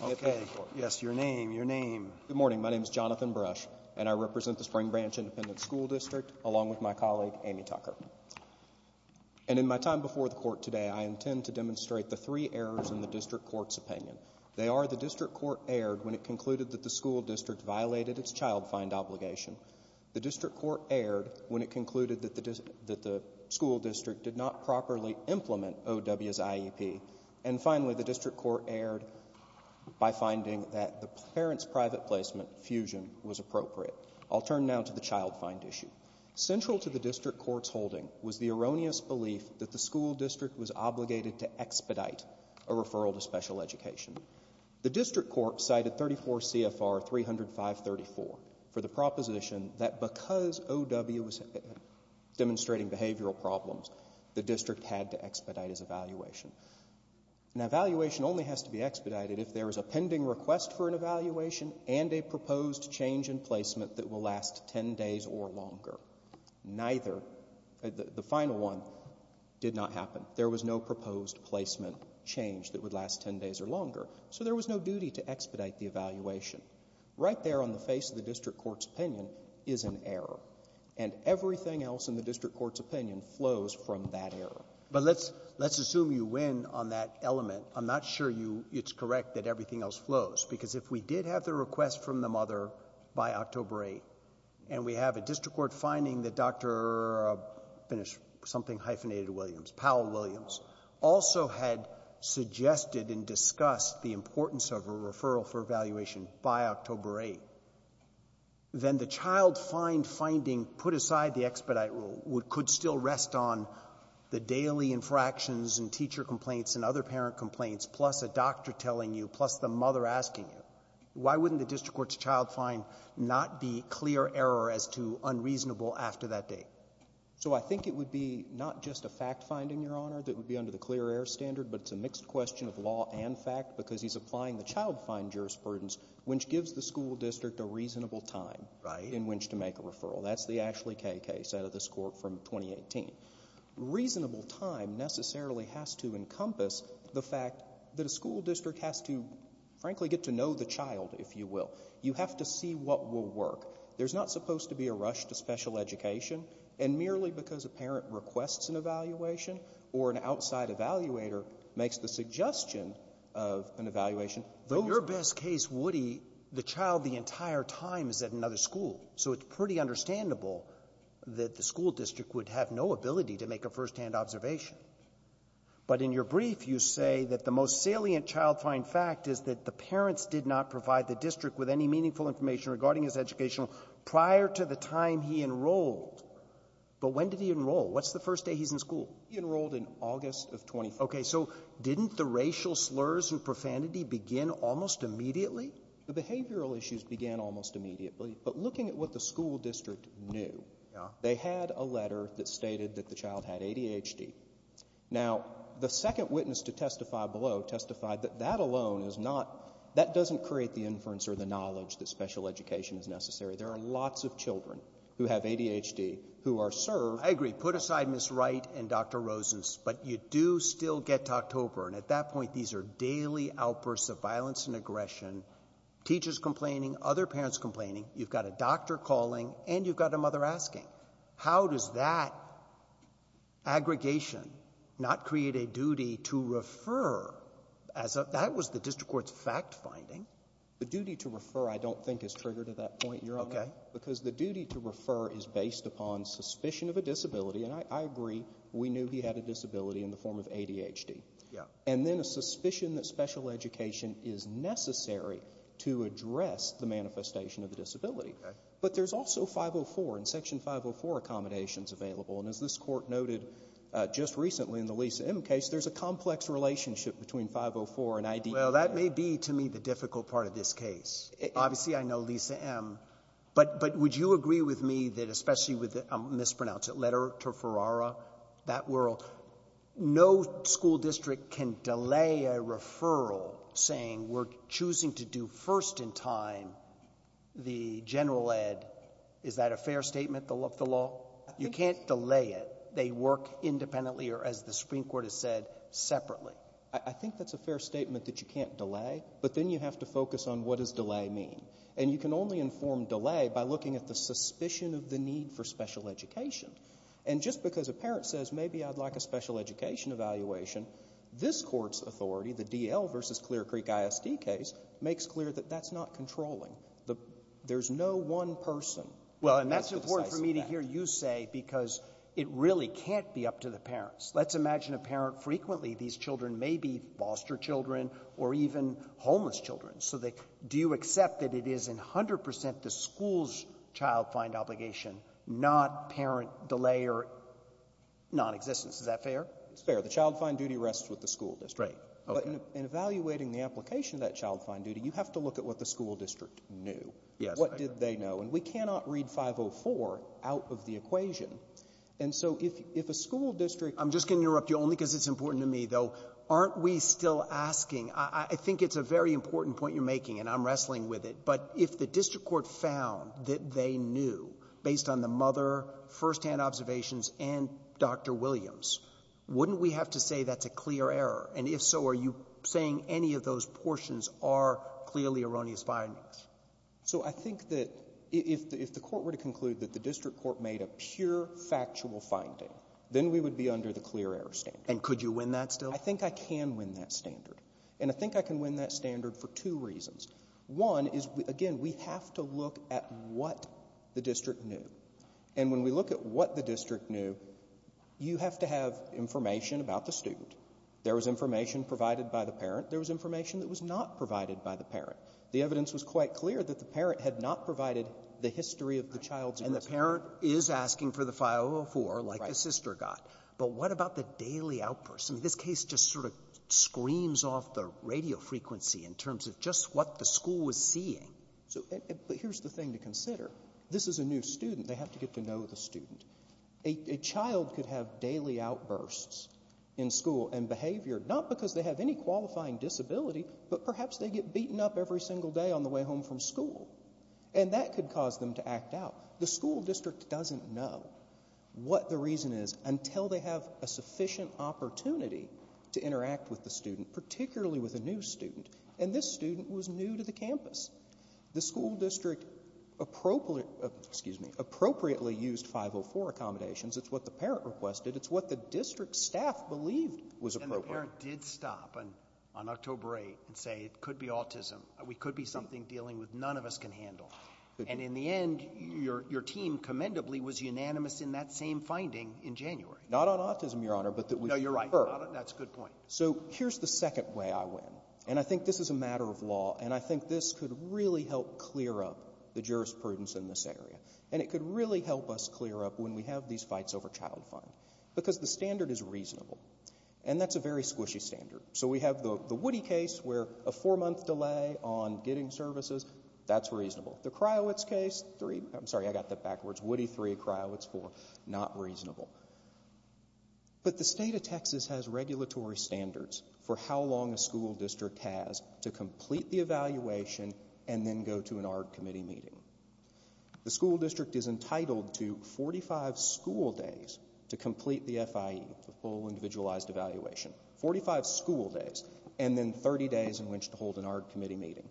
And in my time before the court today, I intend to demonstrate the three errors in the district court's opinion. They are, the district court erred when it concluded that the school district violated its child find obligation. The district court erred when it concluded that the school district did not properly implement OW's IEP. And finally, the district court erred by finding that the parent's private placement fusion was appropriate. I'll turn now to the child find issue. Central to the district court's holding was the erroneous belief that the school district was obligated to expedite a referral to special education. The district court cited 34 CFR 305.34 for the proposition that because OW was demonstrating behavioral problems, the district had to expedite its evaluation. An evaluation only has to be expedited if there is a pending request for an evaluation and a proposed change in placement that will last 10 days or longer. Neither, the final one, did not happen. There was no proposed placement change that would last 10 days or longer. So there was no duty to expedite the evaluation. Right there on the face of the district court's opinion is an error. And everything else in the district court's opinion flows from that error. But let's, let's assume you win on that element. I'm not sure you, it's correct that everything else flows. Because if we did have the request from the mother by October 8th, and we have a district court finding that Dr. something hyphenated Williams, Powell Williams, also had suggested and discussed the importance of a referral for evaluation by October 8th, then the child find finding put aside the expedite rule could still rest on the daily infractions and teacher complaints and other parent complaints, plus a doctor telling you, plus the mother asking you. Why wouldn't the district court's child find not be clear error as to unreasonable after that date? So I think it would be not just a fact finding, Your Honor, that would be under the clear air standard. But it's a mixed question of law and fact, because he's applying the child find jurisprudence, which gives the school district a reasonable time in which to make a referral. That's the Ashley K case out of this court from 2018. Reasonable time necessarily has to encompass the fact that a school district has to, frankly, get to know the child, if you will. You have to see what will work. There's not supposed to be a rush to special education, and merely because a parent requests an evaluation or an outside evaluator makes the suggestion of an evaluation of those ones. Roberts. Roberts. Woody, the child the entire time is at another school. So it's pretty understandable that the school district would have no ability to make a firsthand observation. But in your brief, you say that the most salient child find fact is that the parents did not provide the district with any meaningful information regarding his educational prior to the time he enrolled. But when did he enroll? What's the first day he's in school? He enrolled in August of 2014. Okay. So didn't the racial slurs and profanity begin almost immediately? The behavioral issues began almost immediately. But looking at what the school district knew, they had a letter that stated that the child had ADHD. Now, the second witness to testify below testified that that alone is not — that doesn't create the inference or the knowledge that special education is necessary. There are lots of children who have ADHD who are served — I agree. Put aside Ms. Wright and Dr. Rosen's. But you do still get to October. And at that point, these are daily outbursts of violence and aggression, teachers complaining, other parents complaining. You've got a doctor calling, and you've got a mother asking. How does that aggregation not create a duty to refer as a — that was the district court's fact-finding? The duty to refer, I don't think, is triggered at that point, Your Honor. Okay. Because the duty to refer is based upon suspicion of a disability. And I agree. We knew he had a disability in the form of ADHD. Yeah. And then a suspicion that special education is necessary to address the manifestation of the disability. Okay. But there's also 504 and Section 504 accommodations available. And as this Court noted just recently in the Lisa M. case, there's a complex relationship between 504 and — Well, that may be, to me, the difficult part of this case. Obviously, I know Lisa M. But would you agree with me that, especially with — I'll mispronounce it — Letter to Ferrara, that world, no school district can delay a referral saying, we're choosing to do first in time the general ed. Is that a fair statement of the law? You can't delay it. They work independently or, as the Supreme Court has said, separately. I think that's a fair statement that you can't delay, but then you have to focus on what does delay mean. And you can only inform delay by looking at the suspicion of the need for special education. And just because a parent says, maybe I'd like a special education evaluation, this Court's authority, the D.L. v. Clear Creek ISD case, makes clear that that's not controlling. There's no one person that's going to say that. Well, and that's important for me to hear you say, because it really can't be up to the parents. Let's imagine a parent frequently — these children may be foster children or even homeless children. So they — do you accept that it is 100 percent the school's child find obligation, not parent delay or nonexistence? Is that fair? It's fair. The child find duty rests with the school district. Right. Okay. But in evaluating the application of that child find duty, you have to look at what the school district knew. Yes. What did they know? And we cannot read 504 out of the equation. And so if a school district — I'm just going to interrupt you, only because it's important to me, though. Aren't we still asking — I think it's a very important point you're making, and I'm wrestling with it. But if the district court found that they knew, based on the mother, first-hand observations, and Dr. Williams, wouldn't we have to say that's a clear error? And if so, are you saying any of those portions are clearly erroneous findings? So I think that if the Court were to conclude that the district court made a pure factual finding, then we would be under the clear error standard. And could you win that still? I think I can win that standard. And I think I can win that standard for two reasons. One is, again, we have to look at what the district knew. And when we look at what the district knew, you have to have information about the student. There was information provided by the parent. There was information that was not provided by the parent. The evidence was quite clear that the parent had not provided the history of the child's — And the parent is asking for the 504, like the sister got. But what about the daily outbursts? I mean, this case just sort of screams off the radio frequency in terms of just what the school was seeing. But here's the thing to consider. This is a new student. They have to get to know the student. A child could have daily outbursts in school and behavior, not because they have any qualifying disability, but perhaps they get beaten up every single day on the way home from school. And that could cause them to act out. The school district doesn't know what the reason is until they have a sufficient opportunity to interact with the student, particularly with a new student. And this student was new to the campus. The school district appropriately — excuse me — appropriately used 504 accommodations. It's what the parent requested. It's what the district staff believed was appropriate. And the parent did stop on October 8th and say, it could be autism. We could be something dealing with none of us can handle. And in the end, your team commendably was unanimous in that same finding in January. Not on autism, Your Honor, but that we prefer. No, you're right. That's a good point. So here's the second way I win. And I think this is a matter of law. And I think this could really help clear up the jurisprudence in this area. And it could really help us clear up when we have these fights over child funds, because the standard is reasonable. And that's a very squishy standard. So we have the Woody case, where a four-month delay on getting services. That's reasonable. The Kryowitz case, three — I'm sorry, I got that backwards. Woody, three. Kryowitz, four. Not reasonable. But the state of Texas has regulatory standards for how long a school district has to complete the evaluation and then go to an ARD committee meeting. The school district is entitled to 45 school days to complete the FIE, the full individualized evaluation. Forty-five school days, and then 30 days in which to hold an ARD committee meeting.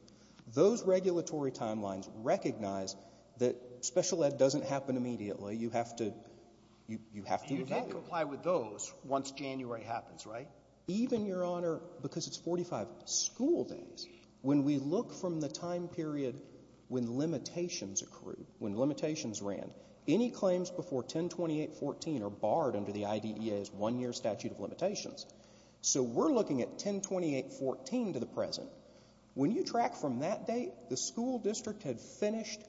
Those regulatory timelines recognize that special ed doesn't happen immediately. You have to — you have to evaluate. And you don't comply with those once January happens, right? Even, Your Honor, because it's 45 school days, when we look from the time period when limitations accrue, when limitations ran, any claims before 1028.14 are barred under the IDEA's one-year statute of limitations. So we're looking at 1028.14 to the present. When you track from that date, the school district had finished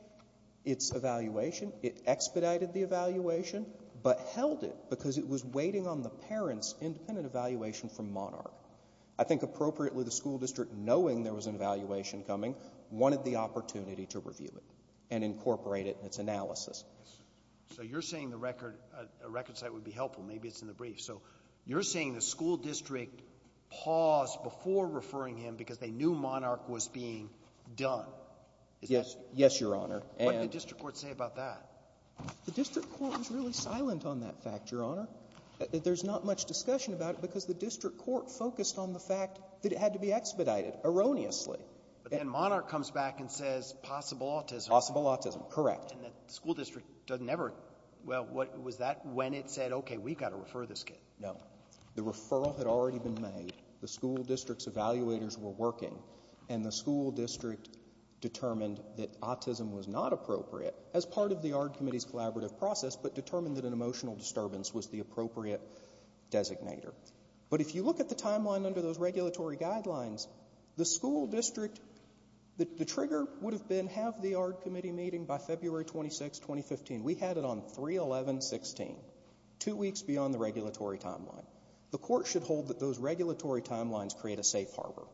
its evaluation. It expedited the evaluation, but held it because it was waiting on the parents' independent evaluation from Monarch. I think appropriately, the school district, knowing there was an evaluation coming, wanted the opportunity to review it and incorporate it in its analysis. So you're saying the record — a record site would be helpful. Maybe it's in the brief. So you're saying the school district paused before referring him because they knew Monarch was being done. Is that — Yes. Yes, Your Honor. And — What did the district court say about that? The district court was really silent on that fact, Your Honor. There's not much discussion about it because the district court focused on the fact that it had to be expedited, erroneously. But then Monarch comes back and says possible autism. Possible autism, correct. And the school district doesn't ever — well, was that when it said, okay, we've got to refer this kid? No. The referral had already been made. The school district's evaluators were working, and the school district determined that autism was not appropriate as part of the ARD Committee's collaborative process, but determined that an emotional disturbance was the appropriate designator. But if you look at the timeline under those regulatory guidelines, the school district — the trigger would have been have the ARD Committee meeting by February 26, 2015. We had it on 3-11-16, two weeks beyond the regulatory timeline. The court should hold that those regulatory timelines create a safe harbor,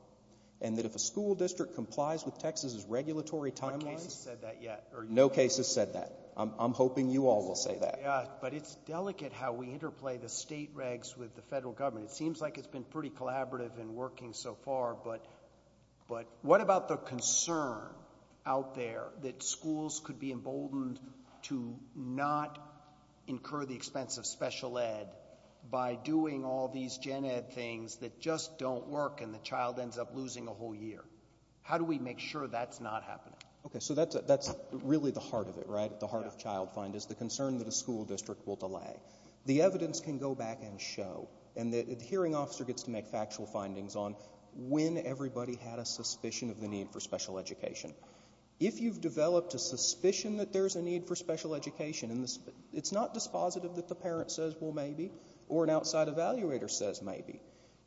and that if a school district complies with Texas's regulatory timeline — No case has said that yet. No case has said that. I'm hoping you all will say that. Yeah, but it's delicate how we interplay the state regs with the federal government. It seems like it's been pretty collaborative and working so far, but what about the concern out there that schools could be emboldened to not incur the cost of doing all these gen ed things that just don't work and the child ends up losing a whole year? How do we make sure that's not happening? Okay, so that's really the heart of it, right? The heart of child finders, the concern that a school district will delay. The evidence can go back and show, and the hearing officer gets to make factual findings on when everybody had a suspicion of the need for special education. If you've developed a suspicion that there's a need for special education, it's not dispositive that the parent says, well, maybe, or an outside evaluator says maybe.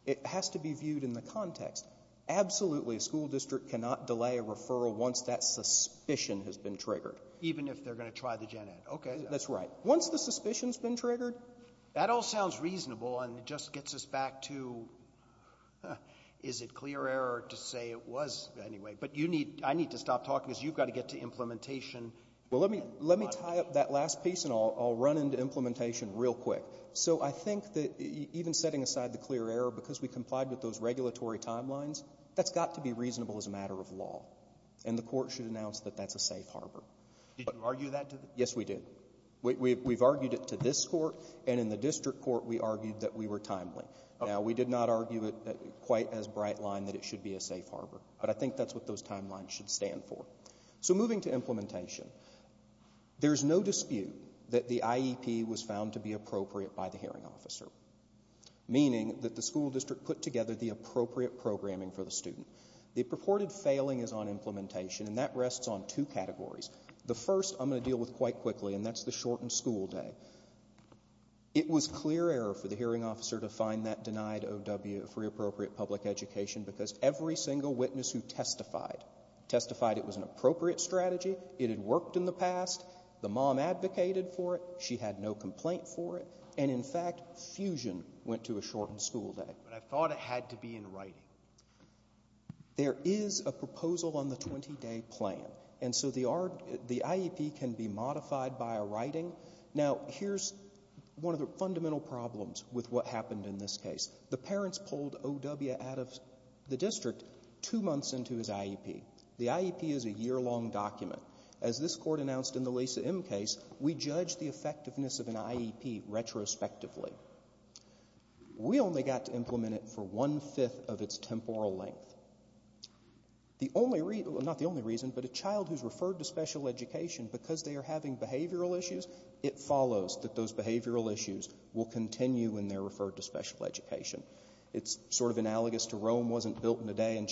It has to be viewed in the context. Absolutely, a school district cannot delay a referral once that suspicion has been triggered. Even if they're going to try the gen ed. Okay. That's right. Once the suspicion's been triggered — That all sounds reasonable, and it just gets us back to, is it clear error to say it was anyway? But I need to stop talking because you've got to get to implementation. Well, let me tie up that last piece, and I'll run into implementation real quick. So I think that even setting aside the clear error, because we complied with those regulatory timelines, that's got to be reasonable as a matter of law. And the court should announce that that's a safe harbor. Did you argue that? Yes, we did. We've argued it to this court, and in the district court, we argued that we were timely. Now, we did not argue it quite as bright line that it should be a safe harbor. But I think that's what those timelines should stand for. So moving to implementation, there's no dispute that the IEP was found to be appropriate by the hearing officer, meaning that the school district put together the appropriate programming for the student. The purported failing is on implementation, and that rests on two categories. The first I'm going to deal with quite quickly, and that's the shortened school day. It was clear error for the hearing officer to find that denied OW for inappropriate public education because every single witness who testified, testified it was an appropriate strategy, it had worked in the past, the mom advocated for it, she had no complaint for it, and in fact, fusion went to a shortened school day. But I thought it had to be in writing. There is a proposal on the 20-day plan. And so the IEP can be modified by a writing. Now, here's one of the fundamental problems with what happened in this case. The parents pulled OW out of the district two months into his IEP. The IEP is a year-long document. As this court announced in the Lisa M case, we judged the effectiveness of an IEP retrospectively. We only got to implement it for one-fifth of its temporal length. The only reason, not the only reason, but a child who's referred to special education because they are having behavioral issues, it follows that those who are referred to special education, it's sort of analogous to Rome wasn't built in a day and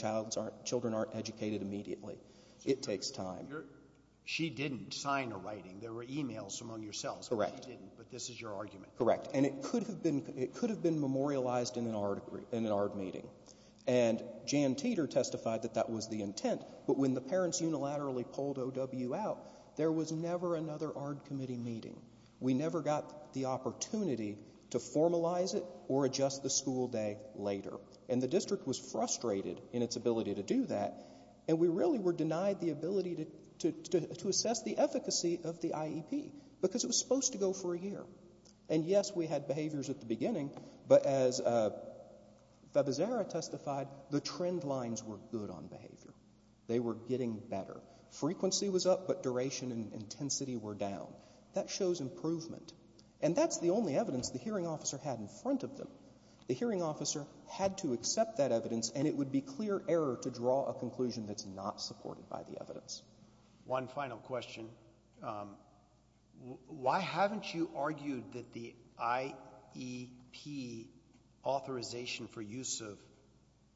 children aren't educated immediately. It takes time. She didn't sign a writing. There were e-mails among yourselves. Correct. But she didn't. But this is your argument. Correct. And it could have been memorialized in an ARD meeting. And Jan Teeter testified that that was the intent. But when the parents unilaterally pulled OW out, there was never another ARD committee meeting. We never got the opportunity to formalize it or adjust the school day later. And the district was frustrated in its ability to do that. And we really were denied the ability to assess the efficacy of the IEP because it was supposed to go for a year. And yes, we had behaviors at the beginning. But as Fabizarra testified, the trend lines were good on behavior. They were getting better. Frequency was up, but duration and intensity were down. That shows improvement. And that's the only evidence the hearing officer had in front of them. The hearing officer had to accept that evidence, and it would be clear error to draw a conclusion that's not supported by the evidence. One final question. Why haven't you argued that the IEP authorization for use of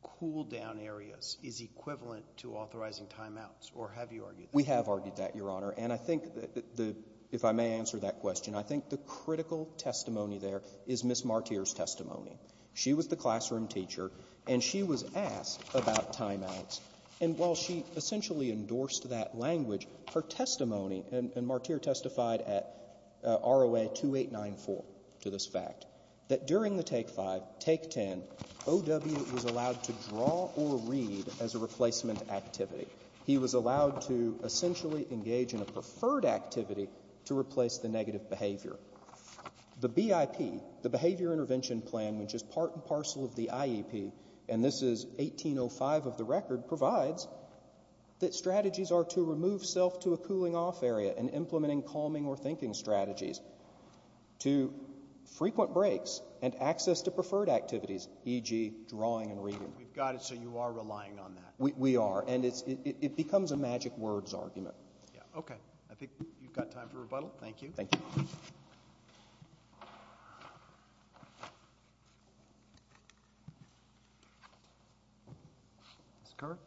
cool-down areas is equivalent to authorizing timeouts? Or have you argued that? We have argued that, Your Honor. And I think that the, if I may answer that question, I think the critical testimony there is Ms. Martyr's testimony. She was the classroom teacher, and she was asked about timeouts. And while she essentially endorsed that language, her testimony, and Martyr testified at ROA 2894 to this fact, that during the Take 5, Take 10, O.W. was allowed to draw or read as a replacement activity. He was allowed to essentially engage in a preferred activity to replace the negative behavior. The BIP, the Behavior Intervention Plan, which is part and parcel of the IEP, and this is 1805 of the record, provides that strategies are to remove self to a cooling-off area and implementing calming or thinking strategies to frequent breaks and access to preferred activities, e.g. drawing and reading. We've got it, so you are relying on that. We are. And it becomes a magic words argument. Okay. I think you've got time for rebuttal. Thank you. Ms. Kerr?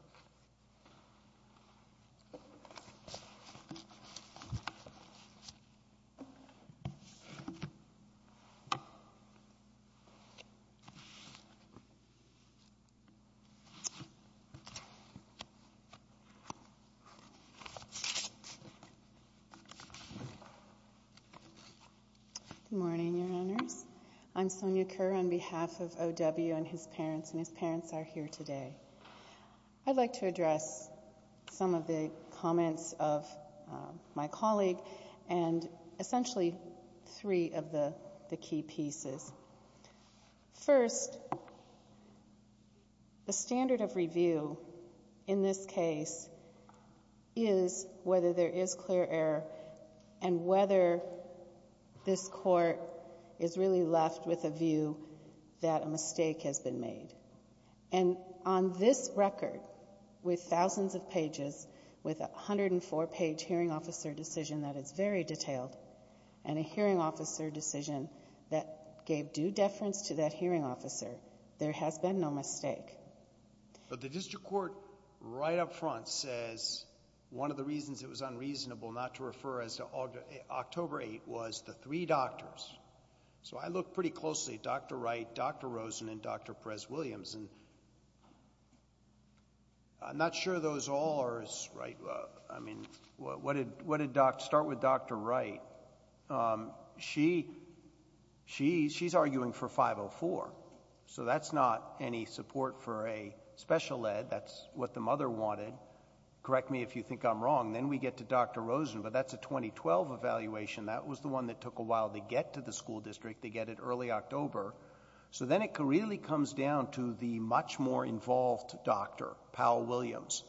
Good morning, Your Honors. I'm Sonia Kerr on behalf of O.W. and his parents, and his parents are here today. I'd like to address some of the comments of my colleague and essentially three of the key pieces. First, the standard of review in this case is whether there is clear error and whether this Court is really left with a view that a mistake has been made. And on this record, with thousands of pages, with a 104-page hearing officer decision that is very detailed and a hearing officer decision that gave due deference to that hearing officer, there has been no mistake. But the District Court right up front says one of the reasons it was unreasonable not to refer as to October 8th was the three doctors. So I look pretty closely at Dr. Wright, Dr. Rosen, and Dr. Perez-Williams, and I'm not sure those all are as—I mean, what did—start with Dr. Wright. She's arguing for 504, so that's not any support for a special ed. That's what the mother wanted. Correct me if you think I'm wrong. Then we get to Dr. Rosen, but that's a 2012 evaluation. That was the one that took a while to get to the school district. They get it early October. So then it really comes down to the much more involved doctor, Powell-Williams.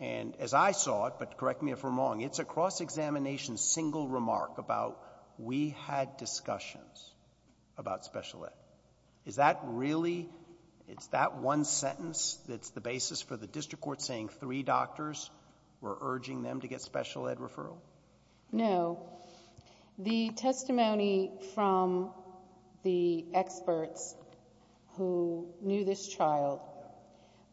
And as I saw it, but correct me if I'm wrong, it's a cross-examination single remark about we had discussions about special ed. Is that really—it's that one sentence that's the basis for the District Court saying three doctors were urging them to get special ed. referral? No. The testimony from the experts who knew this child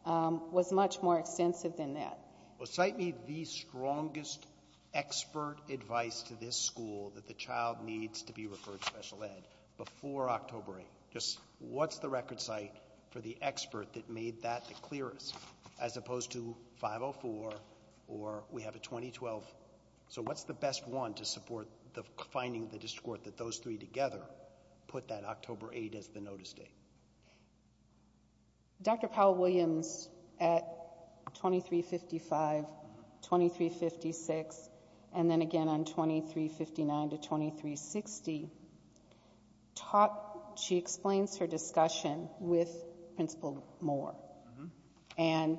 was much more extensive than that. Well, cite me the strongest expert advice to this school that the child needs to be referred to special ed before October 8th. Just what's the record cite for the expert that made that the clearest, as opposed to 2012? So what's the best one to support the finding of the District Court that those three together put that October 8th as the notice date? Dr. Powell-Williams at 2355, 2356, and then again on 2359 to 2360, she explains her discussion with Principal Moore. And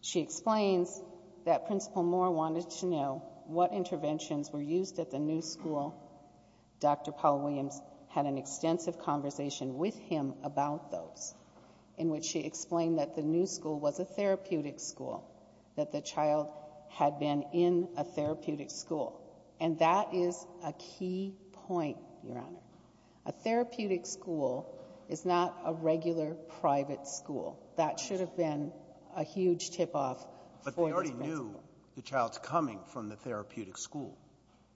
she explains that Principal Moore wanted to know what interventions were used at the new school. Dr. Powell-Williams had an extensive conversation with him about those, in which he explained that the new school was a therapeutic school, that the child had been in a therapeutic school. And that is a key point, Your Honor. A therapeutic school is not a regular private school. That should have been a huge tip-off for the principal. But they already knew the child's coming from the therapeutic school.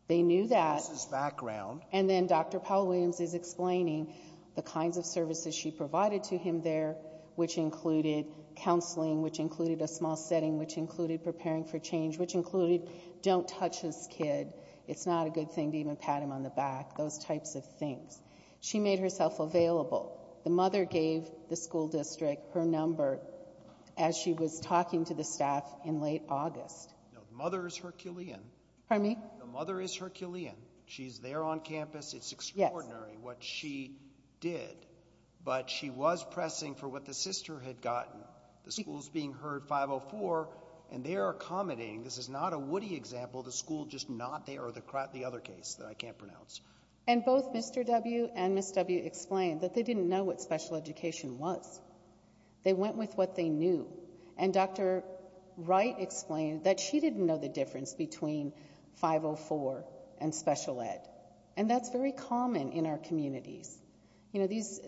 They knew that. This is background. And then Dr. Powell-Williams is explaining the kinds of services she provided to him there, which included counseling, which included a small setting, which included preparing for change, which included don't touch this kid, it's not a good thing to even pat him on the back, those types of things. She made herself available. The mother gave the school district her number as she was talking to the staff in late August. No, the mother is Herculean. Pardon me? The mother is Herculean. She's there on campus. It's extraordinary what she did. But she was pressing for what the sister had gotten. The school's being heard 504, and they're accommodating. This is not a Woody example, the school just not there, or the other case that I can't pronounce. And both Mr. W. and Ms. W. explained that they didn't know what special education was. They went with what they knew. And Dr. Wright explained that she didn't know the difference between 504 and special ed. And that's very common in our communities. You know, these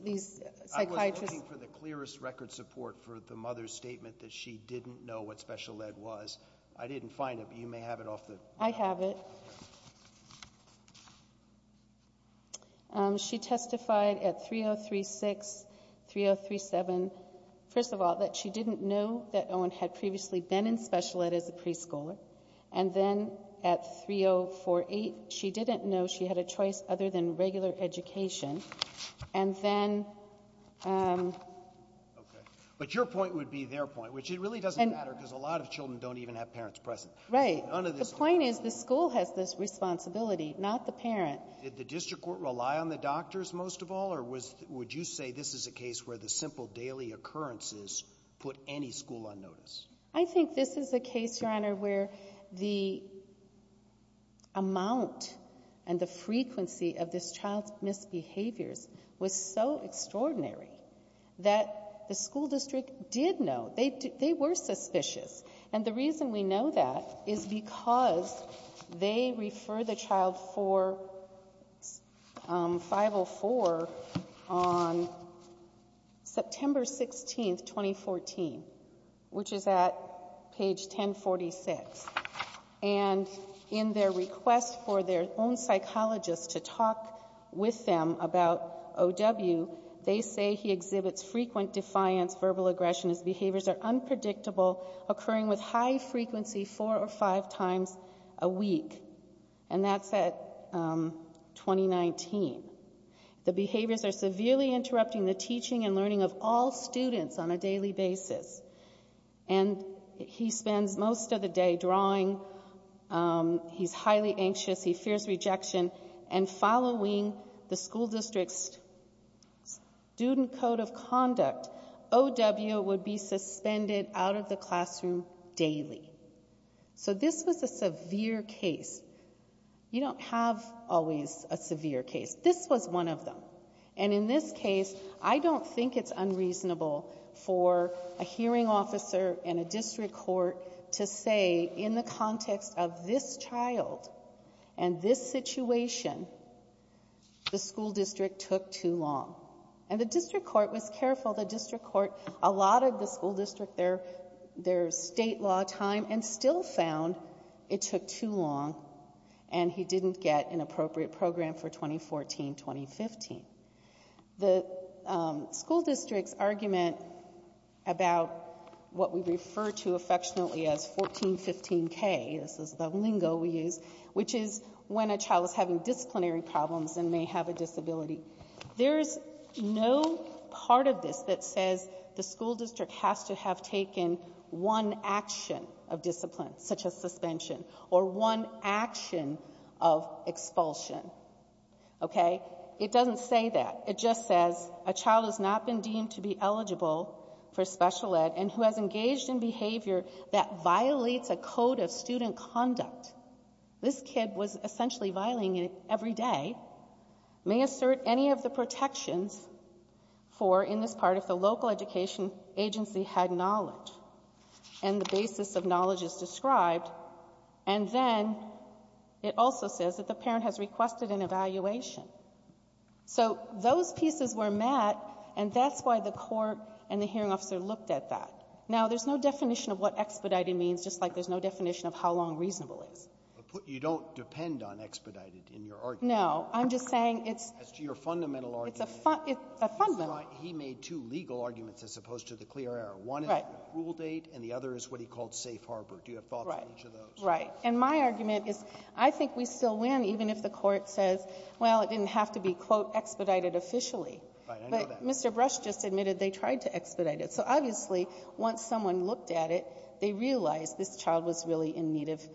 psychiatrists... I was looking for the clearest record support for the mother's statement that she didn't know what special ed was. I didn't find it, but you may have it off the... I have it. I have it here. She testified at 3036, 3037, first of all, that she didn't know that Owen had previously been in special ed as a preschooler. And then at 3048, she didn't know she had a choice other than regular education. And then... Okay. But your point would be their point, which it really doesn't matter because a lot of children don't even have parents present. Right. None of this... The point is the school has this responsibility, not the parent. Did the district court rely on the doctors most of all, or would you say this is a case where the simple daily occurrences put any school on notice? I think this is a case, Your Honor, where the amount and the frequency of this child's misbehaviors was so extraordinary that the school district did know. They were suspicious. And the reason we know that is because they refer the child for 504 on September 16, 2014, which is at page 1046. And in their request for their own psychologist to talk with them about OW, they say he exhibits frequent defiance, verbal aggression, his behaviors are unpredictable, occurring with high frequency four or five times a week. And that's at 2019. The behaviors are severely interrupting the teaching and learning of all students on a daily basis. And he spends most of the day drawing, he's highly anxious, he fears rejection, and following the school district's student code of conduct, OW would be suspended out of the classroom daily. So this was a severe case. You don't have always a severe case. This was one of them. And in this case, I don't think it's unreasonable for a hearing officer and a district court to say in the context of this child and this situation, the school district took too long. And the district court was careful. The district court allotted the school district their state law time and still found it took too long and he didn't get an appropriate program for 2014-2015. The school district's argument about what we refer to affectionately as 14-15K, this is the lingo we use, which is when a child is having disciplinary problems and may have a disability, there's no part of this that says the school district has to have taken one action of discipline, such as suspension, or one action of expulsion, okay? It doesn't say that. It just says a child has not been deemed to be eligible for special ed and who has engaged in behavior that violates a code of student conduct. This kid was essentially violating it every day. May assert any of the protections for, in this part, if the local education agency had knowledge and the basis of knowledge is described. And then it also says that the parent has requested an evaluation. So those pieces were met, and that's why the court and the hearing officer looked at that. Now, there's no definition of what expedited means, just like there's no definition of how long reasonable is. You don't depend on expedited in your argument. No. I'm just saying it's — As to your fundamental argument. It's a fundamental — He made two legal arguments as opposed to the clear error. Right. Do you have thoughts on each of those? Right. And my argument is, I think we still win even if the court says, well, it didn't have to be, quote, expedited officially. Right. I know that. But Mr. Brush just admitted they tried to expedite it. So, obviously, once someone looked at it, they realized this child was really in need of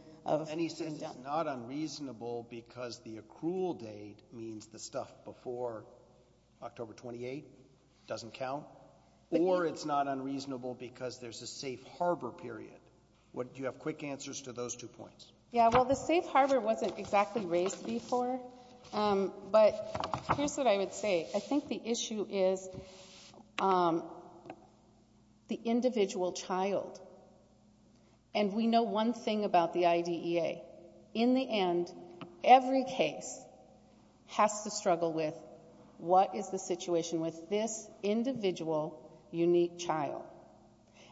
— And he says it's not unreasonable because the accrual date means the stuff before October 28 doesn't count, or it's not unreasonable because there's a safe harbor period. Do you have quick answers to those two points? Yeah. Well, the safe harbor wasn't exactly raised before, but here's what I would say. I think the issue is the individual child. And we know one thing about the IDEA. In the end, every case has to struggle with what is the situation with this individual unique child.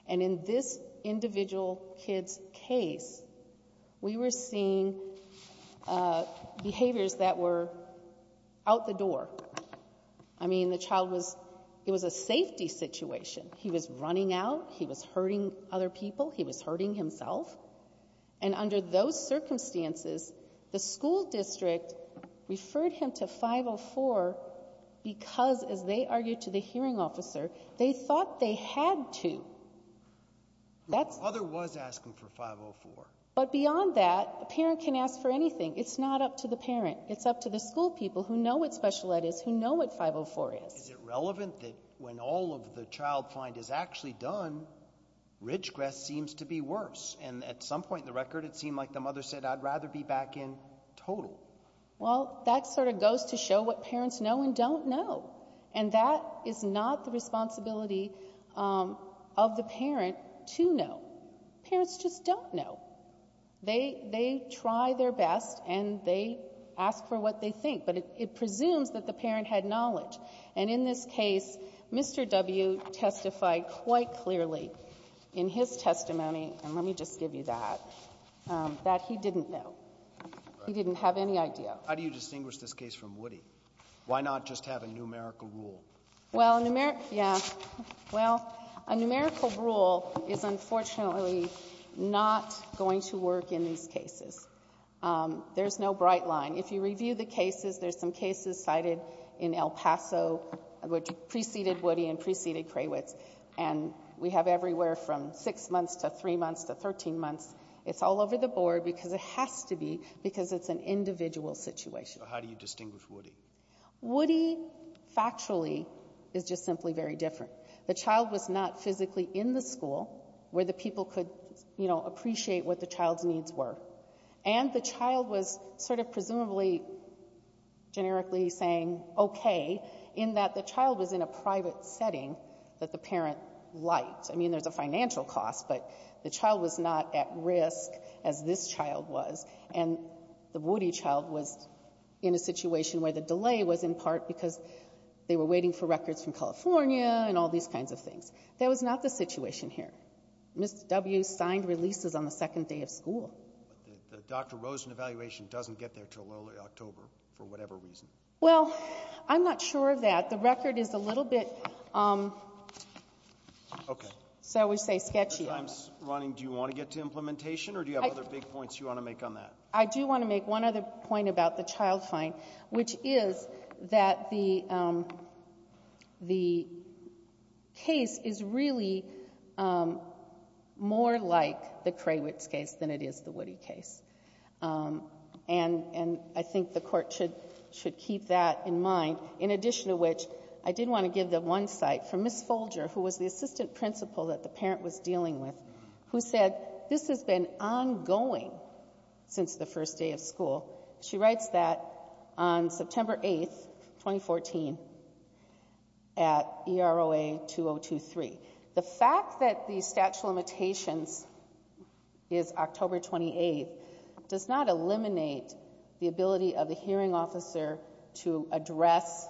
And in this individual kid's case, we were seeing behaviors that were out the door. I mean, the child was — it was a safety situation. He was running out. He was hurting other people. He was hurting himself. And under those circumstances, the school district referred him to 504 because, as they argued to the hearing officer, they thought they had to. The mother was asking for 504. But beyond that, a parent can ask for anything. It's not up to the parent. It's up to the school people who know what special ed is, who know what 504 is. Is it relevant that when all of the child find is actually done, Ridgecrest seems to be worse? And at some point in the record, it seemed like the mother said, I'd rather be back in total. Well, that sort of goes to show what parents know and don't know. And that is not the responsibility of the parent to know. Parents just don't know. They try their best, and they ask for what they think. But it presumes that the parent had knowledge. And in this case, Mr. W. testified quite clearly in his testimony — and let me just give you that — that he didn't know. He didn't have any idea. How do you distinguish this case from Woody? Why not just have a numerical rule? Well, a numeri — yeah. Well, a numerical rule is unfortunately not going to work in these cases. There's no bright line. If you review the cases, there's some cases cited in El Paso which preceded Woody and preceded Krawitz. And we have everywhere from six months to three months to 13 months. It's all over the board because it has to be because it's an individual situation. So how do you distinguish Woody? Woody, factually, is just simply very different. The child was not physically in the school where the people could, you know, appreciate what the child's needs were. And the child was sort of presumably generically saying, OK, in that the child was in a private setting that the parent liked. I mean, there's a financial cost, but the child was not at risk as this child was. And the Woody child was in a situation where the delay was in part because they were waiting for records from California and all these kinds of things. That was not the situation here. Ms. W. signed releases on the second day of school. But the Dr. Rosen evaluation doesn't get there until early October for whatever reason. Well, I'm not sure of that. The record is a little bit, so we say sketchy. I'm just wondering, do you want to get to implementation, or do you have other big points you want to make on that? I do want to make one other point about the child fine, which is that the case is really more like the Krawitz case than it is the Woody case. And I think the court should keep that in mind. In addition to which, I did want to give the one cite from Ms. Folger, who was the one I was working with, who said this has been ongoing since the first day of school. She writes that on September 8th, 2014, at EROA 2023. The fact that the statute of limitations is October 28th does not eliminate the ability of the hearing officer to address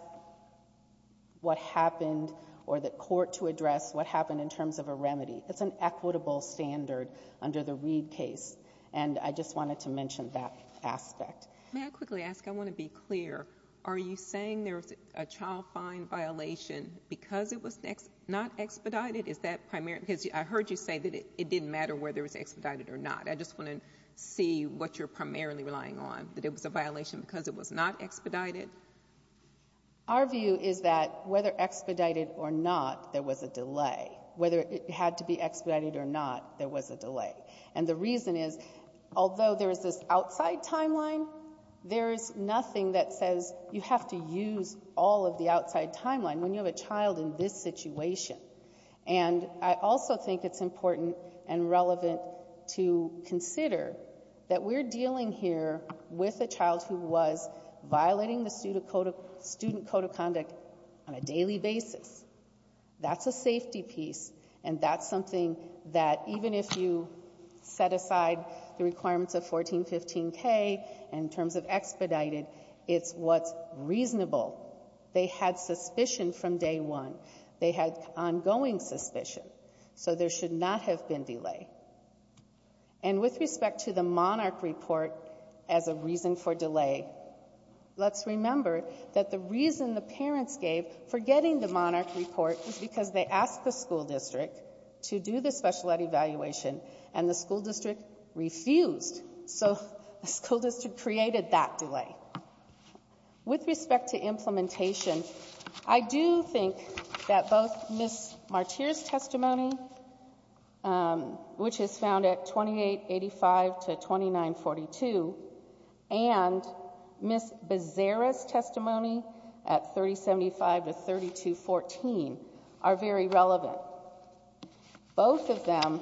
what happened or the court to address what happened in terms of a remedy. It's an equitable standard under the Reed case. And I just wanted to mention that aspect. May I quickly ask, I want to be clear, are you saying there's a child fine violation because it was not expedited? Is that primary? Because I heard you say that it didn't matter whether it was expedited or not. I just want to see what you're primarily relying on, that it was a violation because it was not expedited? Our view is that whether expedited or not, there was a delay. Whether it had to be expedited or not, there was a delay. And the reason is, although there is this outside timeline, there is nothing that says you have to use all of the outside timeline when you have a child in this situation. And I also think it's important and relevant to consider that we're dealing here with a child who was violating the student code of conduct on a daily basis. That's a safety piece. And that's something that even if you set aside the requirements of 1415K in terms of expedited, it's what's reasonable. They had suspicion from day one. They had ongoing suspicion. So there should not have been delay. And with respect to the Monarch Report as a reason for delay, let's remember that the reason the parents gave for getting the Monarch Report was because they asked the school district to do the special ed evaluation, and the school district refused. So the school district created that delay. With respect to implementation, I do think that both Ms. Martyr's testimony, which is found at 2885 to 2942, and Ms. Bezerra's testimony at 3075 to 3214 are very relevant. Both of them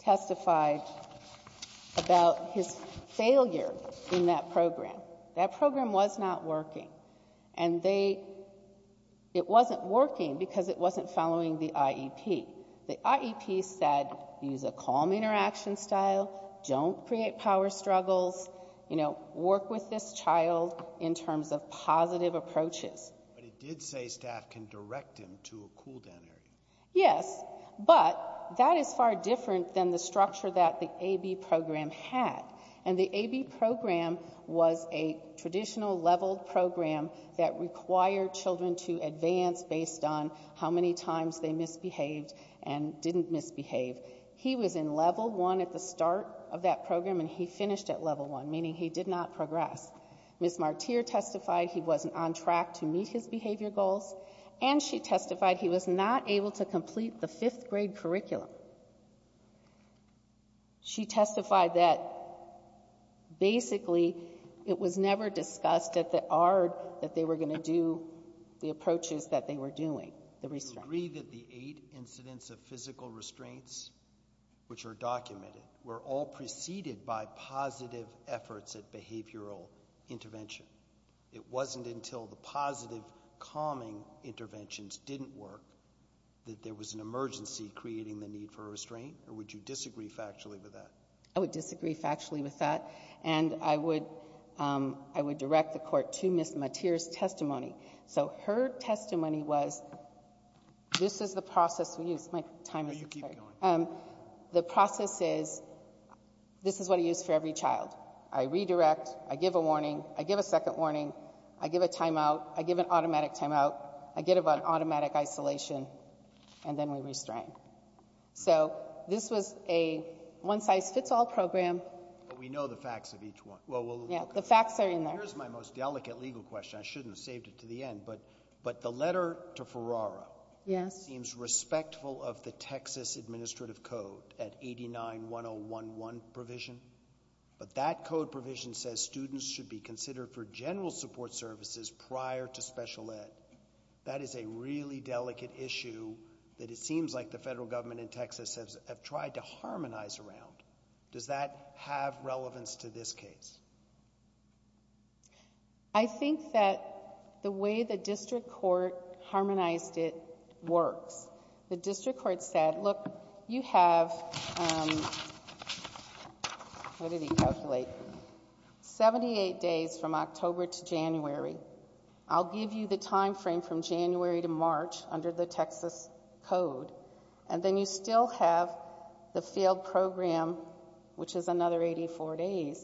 testified about his failure in that program. That program was not working. And it wasn't working because it wasn't following the IEP. The IEP said, use a calm interaction style. Don't create power struggles. Work with this child in terms of positive approaches. But it did say staff can direct him to a cool-down area. Yes, but that is far different than the structure that the AB program had. And the AB program was a traditional leveled program that required children to advance based on how many times they misbehaved and didn't misbehave. He was in level one at the start of that program, and he finished at level one, meaning he did not progress. Ms. Martyr testified he wasn't on track to meet his behavior goals. And she testified he was not able to complete the fifth grade curriculum. She testified that basically it was never discussed at the ARD that they were going to do the approaches that they were doing, the restraints. We agree that the eight incidents of physical restraints, which are documented, were all preceded by positive efforts at behavioral intervention. It wasn't until the positive, calming interventions didn't work that there was an emergency creating the need for restraint, or would you disagree factually with that? I would disagree factually with that. And I would direct the court to Ms. Martyr's testimony. So her testimony was, this is the process we use. My time is up. No, you keep going. The process is, this is what I use for every child. I redirect. I give a warning. I give a second warning. I give a timeout. I give an automatic timeout. I give an automatic isolation. And then we restrain. So this was a one-size-fits-all program. We know the facts of each one. The facts are in there. Here's my most delicate legal question. I shouldn't have saved it to the end. But the letter to Ferrara seems respectful of the Texas Administrative Code at 89-1011 provision. But that code provision says students should be considered for general support services prior to special ed. That is a really delicate issue that it seems like the federal government in Texas have tried to harmonize around. Does that have relevance to this case? I think that the way the district court harmonized it works. The district court said, look, you have, what did he calculate? 78 days from October to January. I'll give you the time frame from January to March under the Texas Code. And then you still have the failed program, which is another 84 days.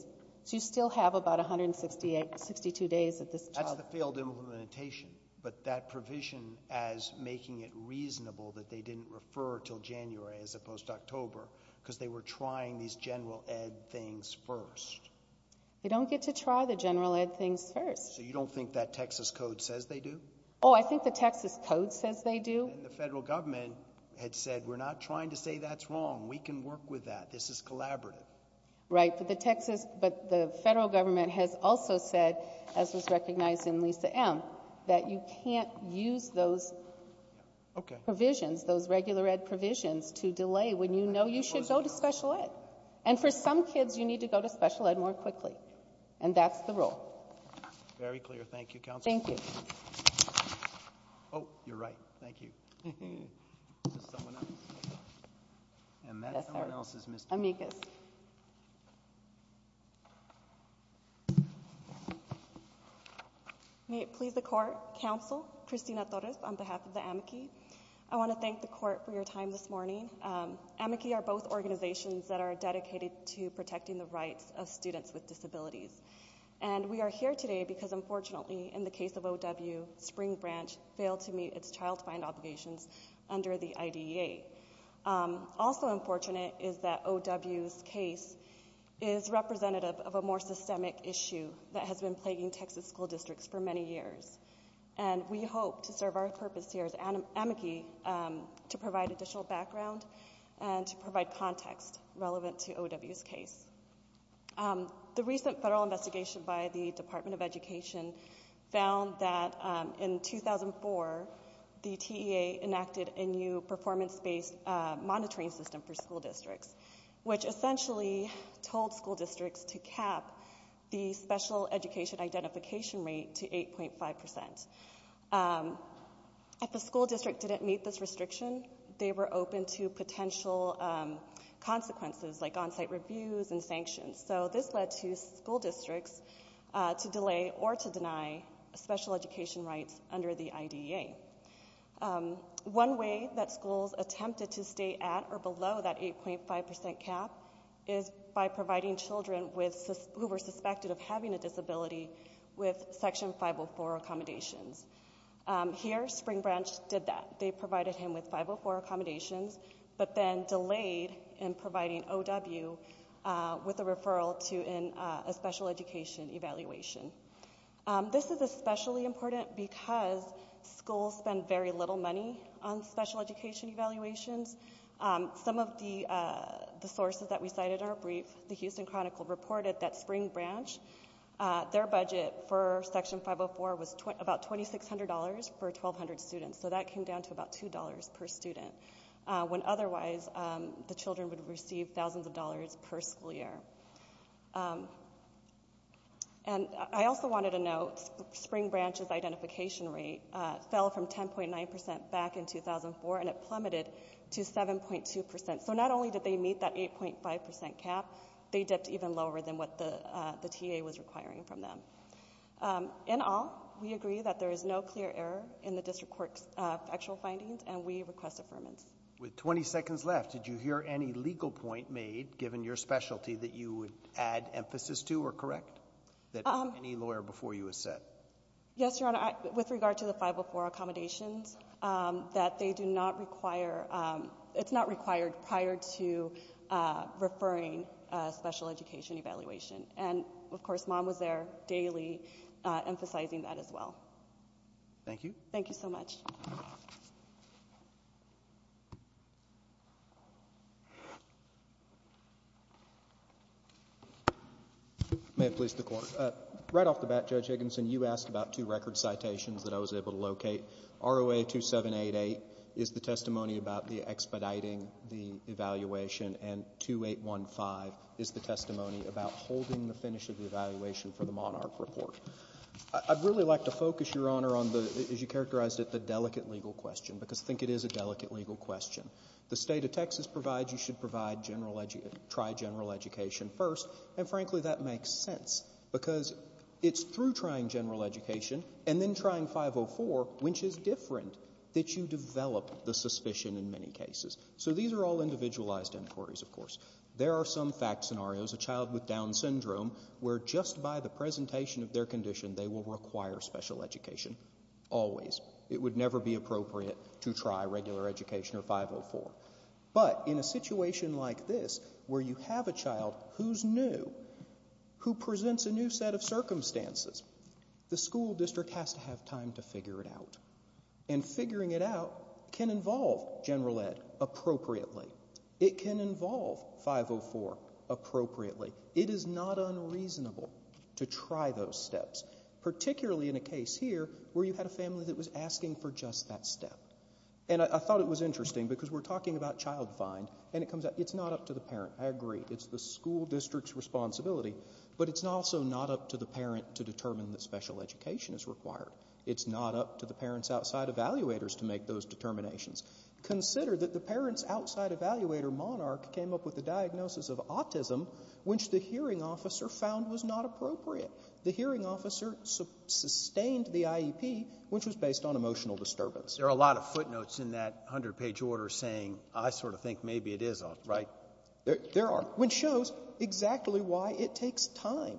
So you still have about 162 days at this time. That's the failed implementation. But that provision as making it reasonable that they didn't refer till January as opposed to October because they were trying these general ed. things first. They don't get to try the general ed. things first. So you don't think that Texas Code says they do? Oh, I think the Texas Code says they do. And the federal government had said, we're not trying to say that's wrong. We can work with that. This is collaborative. Right. But the Texas, but the federal government has also said, as was recognized in Lisa M., that you can't use those provisions, those regular ed. provisions to delay when you know you should go to special ed. And for some kids, you need to go to special ed. more quickly. And that's the rule. Very clear. Thank you, Counselor. Thank you. Oh, you're right. Thank you. Is this someone else? And that someone else is Ms. Dominguez. May it please the Court, Counsel Christina Torres on behalf of the AMICI. I want to thank the Court for your time this morning. AMICI are both organizations that are dedicated to protecting the rights of students with disabilities. And we are here today because, unfortunately, in the case of O.W., Spring Branch failed to meet its child find obligations under the IDEA. Also unfortunate is that O.W.'s case is representative of a more systemic issue that has been plaguing Texas school districts for many years. And we hope to serve our purpose here as AMICI to provide additional background and to provide context relevant to O.W.'s case. The recent federal investigation by the Department of Education found that in 2004, the TEA enacted a new performance-based monitoring system for school districts, which essentially told school districts to cap the special education identification rate to 8.5%. If a school district didn't meet this restriction, they were open to potential consequences like on-site reviews and sanctions. So this led to school districts to delay or to deny special education rights under the IDEA. One way that schools attempted to stay at or below that 8.5% cap is by providing children who were suspected of having a disability with Section 504 accommodations. Here, Spring Branch did that. They provided him with 504 accommodations, but then delayed in providing O.W. with a referral to a special education evaluation. This is especially important because schools spend very little money on special education evaluations. Some of the sources that we cited are brief. The Houston Chronicle reported that Spring Branch, their budget for Section 504 was about $2,600 for 1,200 students. So that came down to about $2 per student, when otherwise the children would receive thousands of dollars per school year. And I also wanted to note Spring Branch's identification rate fell from 10.9% back in 2004, and it plummeted to 7.2%. So not only did they meet that 8.5% cap, they dipped even lower than what the TEA was requiring from them. In all, we agree that there is no clear error in the district court's factual findings, and we request affirmance. With 20 seconds left, did you hear any legal point made, given your specialty, that you would add emphasis to or correct that any lawyer before you has said? Yes, Your Honor. With regard to the 504 accommodations, that they do not require, it's not required prior to referring a special education evaluation. And, of course, Mom was there daily emphasizing that as well. Thank you. Thank you so much. May it please the Court. Right off the bat, Judge Higginson, you asked about two record citations that I was able to locate. ROA 2788 is the testimony about the expediting the evaluation, and 2815 is the testimony about holding the finish of the evaluation for the Monarch Report. I'd really like to focus, Your Honor, on the, as you characterized it, the delicate legal question, because I think it is a delicate legal question. The State of Texas provides you should try general education first, and frankly, that makes sense. Because it's through trying general education and then trying 504, which is different, that you develop the suspicion in many cases. So these are all individualized inquiries, of course. There are some fact scenarios, a child with Down syndrome, where just by the presentation of their condition, they will require special education, always. It would never be appropriate to try regular education or 504. But in a situation like this, where you have a child who's new, who presents a new set of circumstances, the school district has to have time to figure it out. And figuring it out can involve general ed appropriately. It can involve 504 appropriately. It is not unreasonable to try those steps, particularly in a case here where you had a family that was asking for just that step. And I thought it was interesting, because we're talking about child find, and it comes out, it's not up to the parent. I agree. It's the school district's responsibility. But it's also not up to the parent to determine that special education is required. It's not up to the parents outside evaluators to make those determinations. Consider that the parents outside evaluator, Monarch, came up with a diagnosis of autism, which the hearing officer found was not appropriate. The hearing officer sustained the IEP, which was based on emotional disturbance. There are a lot of footnotes in that 100-page order saying, I sort of think maybe it is, right? There are, which shows exactly why it takes time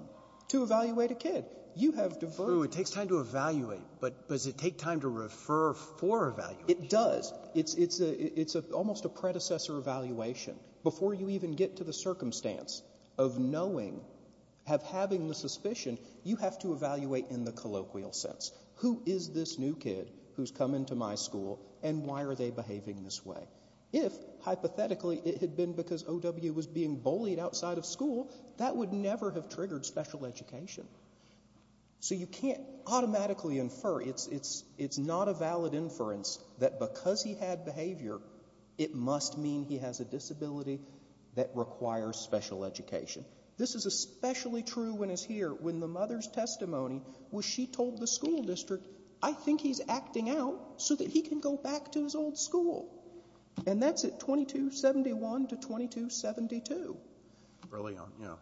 to evaluate a kid. You have to verify. It takes time to evaluate, but does it take time to refer for evaluation? It does. It's almost a predecessor evaluation. Before you even get to the circumstance of knowing, of having the suspicion, you have to evaluate in the colloquial sense. Who is this new kid who's come into my school, and why are they behaving this way? If, hypothetically, it had been because O.W. was being bullied outside of school, that would never have triggered special education. So you can't automatically infer. It's not a valid inference that because he had behavior, it must mean he has a disability that requires special education. This is especially true when it's here, when the mother's testimony was she told the school district, I think he's acting out so that he can go back to his old school. And that's at 2271 to 2272. Brilliant, yeah.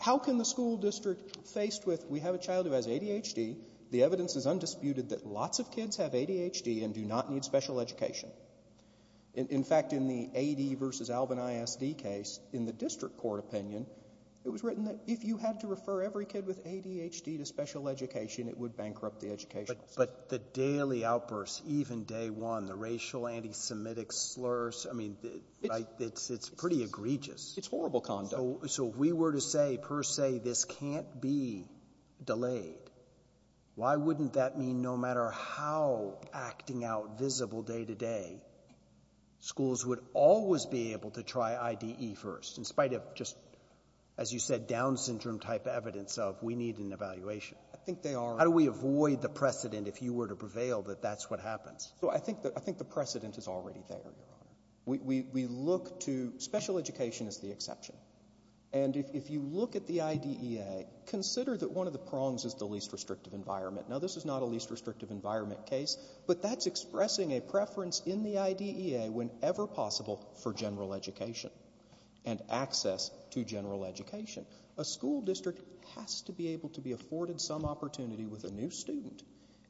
How can the school district, faced with, we have a child who has ADHD, the evidence is undisputed that lots of kids have ADHD and do not need special education. In fact, in the AD versus Alvin ISD case, in the district court opinion, it was written that if you had to refer every kid with ADHD to special education, it would bankrupt the education. But the daily outbursts, even day one, the racial anti-Semitic slurs, I mean, it's pretty egregious. It's horrible conduct. So if we were to say, per se, this can't be delayed, why wouldn't that mean no matter how acting out visible day to day, schools would always be able to try IDE first in spite of just, as you said, Down syndrome type evidence of we need an evaluation. I think they are. How do we avoid the precedent, if you were to prevail, that that's what happens? So I think the precedent is already there, Your Honor. We look to, special education is the exception. And if you look at the IDEA, consider that one of the prongs is the least restrictive environment. Now, this is not a least restrictive environment case, but that's expressing a preference in the IDEA whenever possible for general education and access to general education. A school district has to be able to be afforded some opportunity with a new student.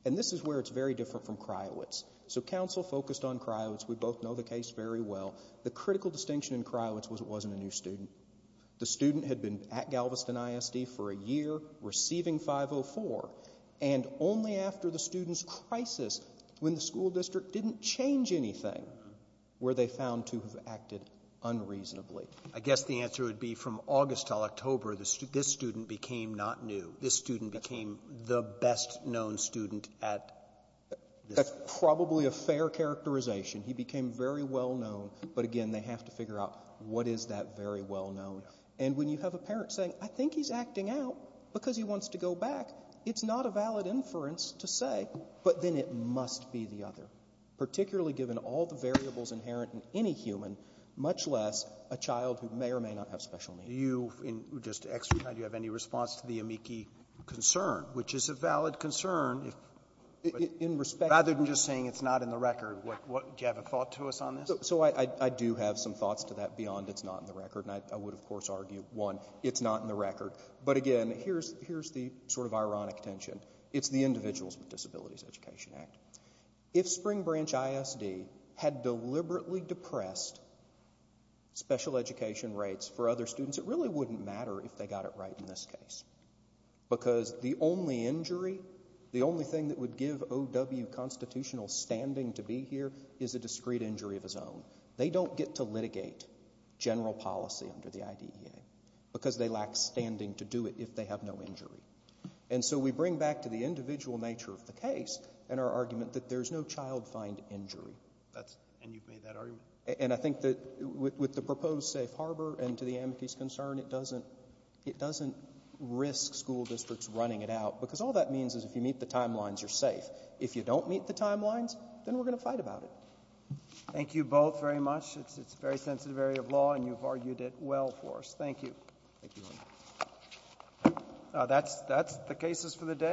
And this is where it's very different from Criowitz. So counsel focused on Criowitz. We both know the case very well. The critical distinction in Criowitz was it wasn't a new student. The student had been at Galveston ISD for a year, receiving 504. And only after the student's crisis, when the school district didn't change anything, were they found to have acted unreasonably. I guess the answer would be from August till October, this student became not new. This student became the best known student at this school. That's probably a fair characterization. He became very well-known. But again, they have to figure out what is that very well-known. And when you have a parent saying, I think he's acting out because he wants to go back, it's not a valid inference to say, but then it must be the other, particularly given all the variables inherent in any human, much less a child who may or may not have special needs. Scalia. Do you, just to exercise, do you have any response to the amici concern, which is a valid concern, if you respect it? Rather than just saying it's not in the record, do you have a thought to us on this? So I do have some thoughts to that beyond it's not in the record. And I would, of course, argue, one, it's not in the record. But again, here's the sort of ironic tension. It's the Individuals with Disabilities Education Act. If Spring Branch ISD had deliberately depressed special education rates for other students, it really wouldn't matter if they got it right in this case. Because the only injury, the only thing that would give O.W. constitutional standing to be here is a discreet injury of his own. They don't get to litigate general policy under the IDEA because they lack standing to do it if they have no injury. And so we bring back to the individual nature of the case and our argument that there's no child find injury. And you've made that argument. And I think that with the proposed safe harbor and to the amicus concern, it doesn't risk school districts running it out. Because all that means is if you meet the timelines, you're safe. If you don't meet the timelines, then we're going to fight about it. Thank you both very much. It's a very sensitive area of law, and you've argued it well for us. Thank you. That's the cases for the day.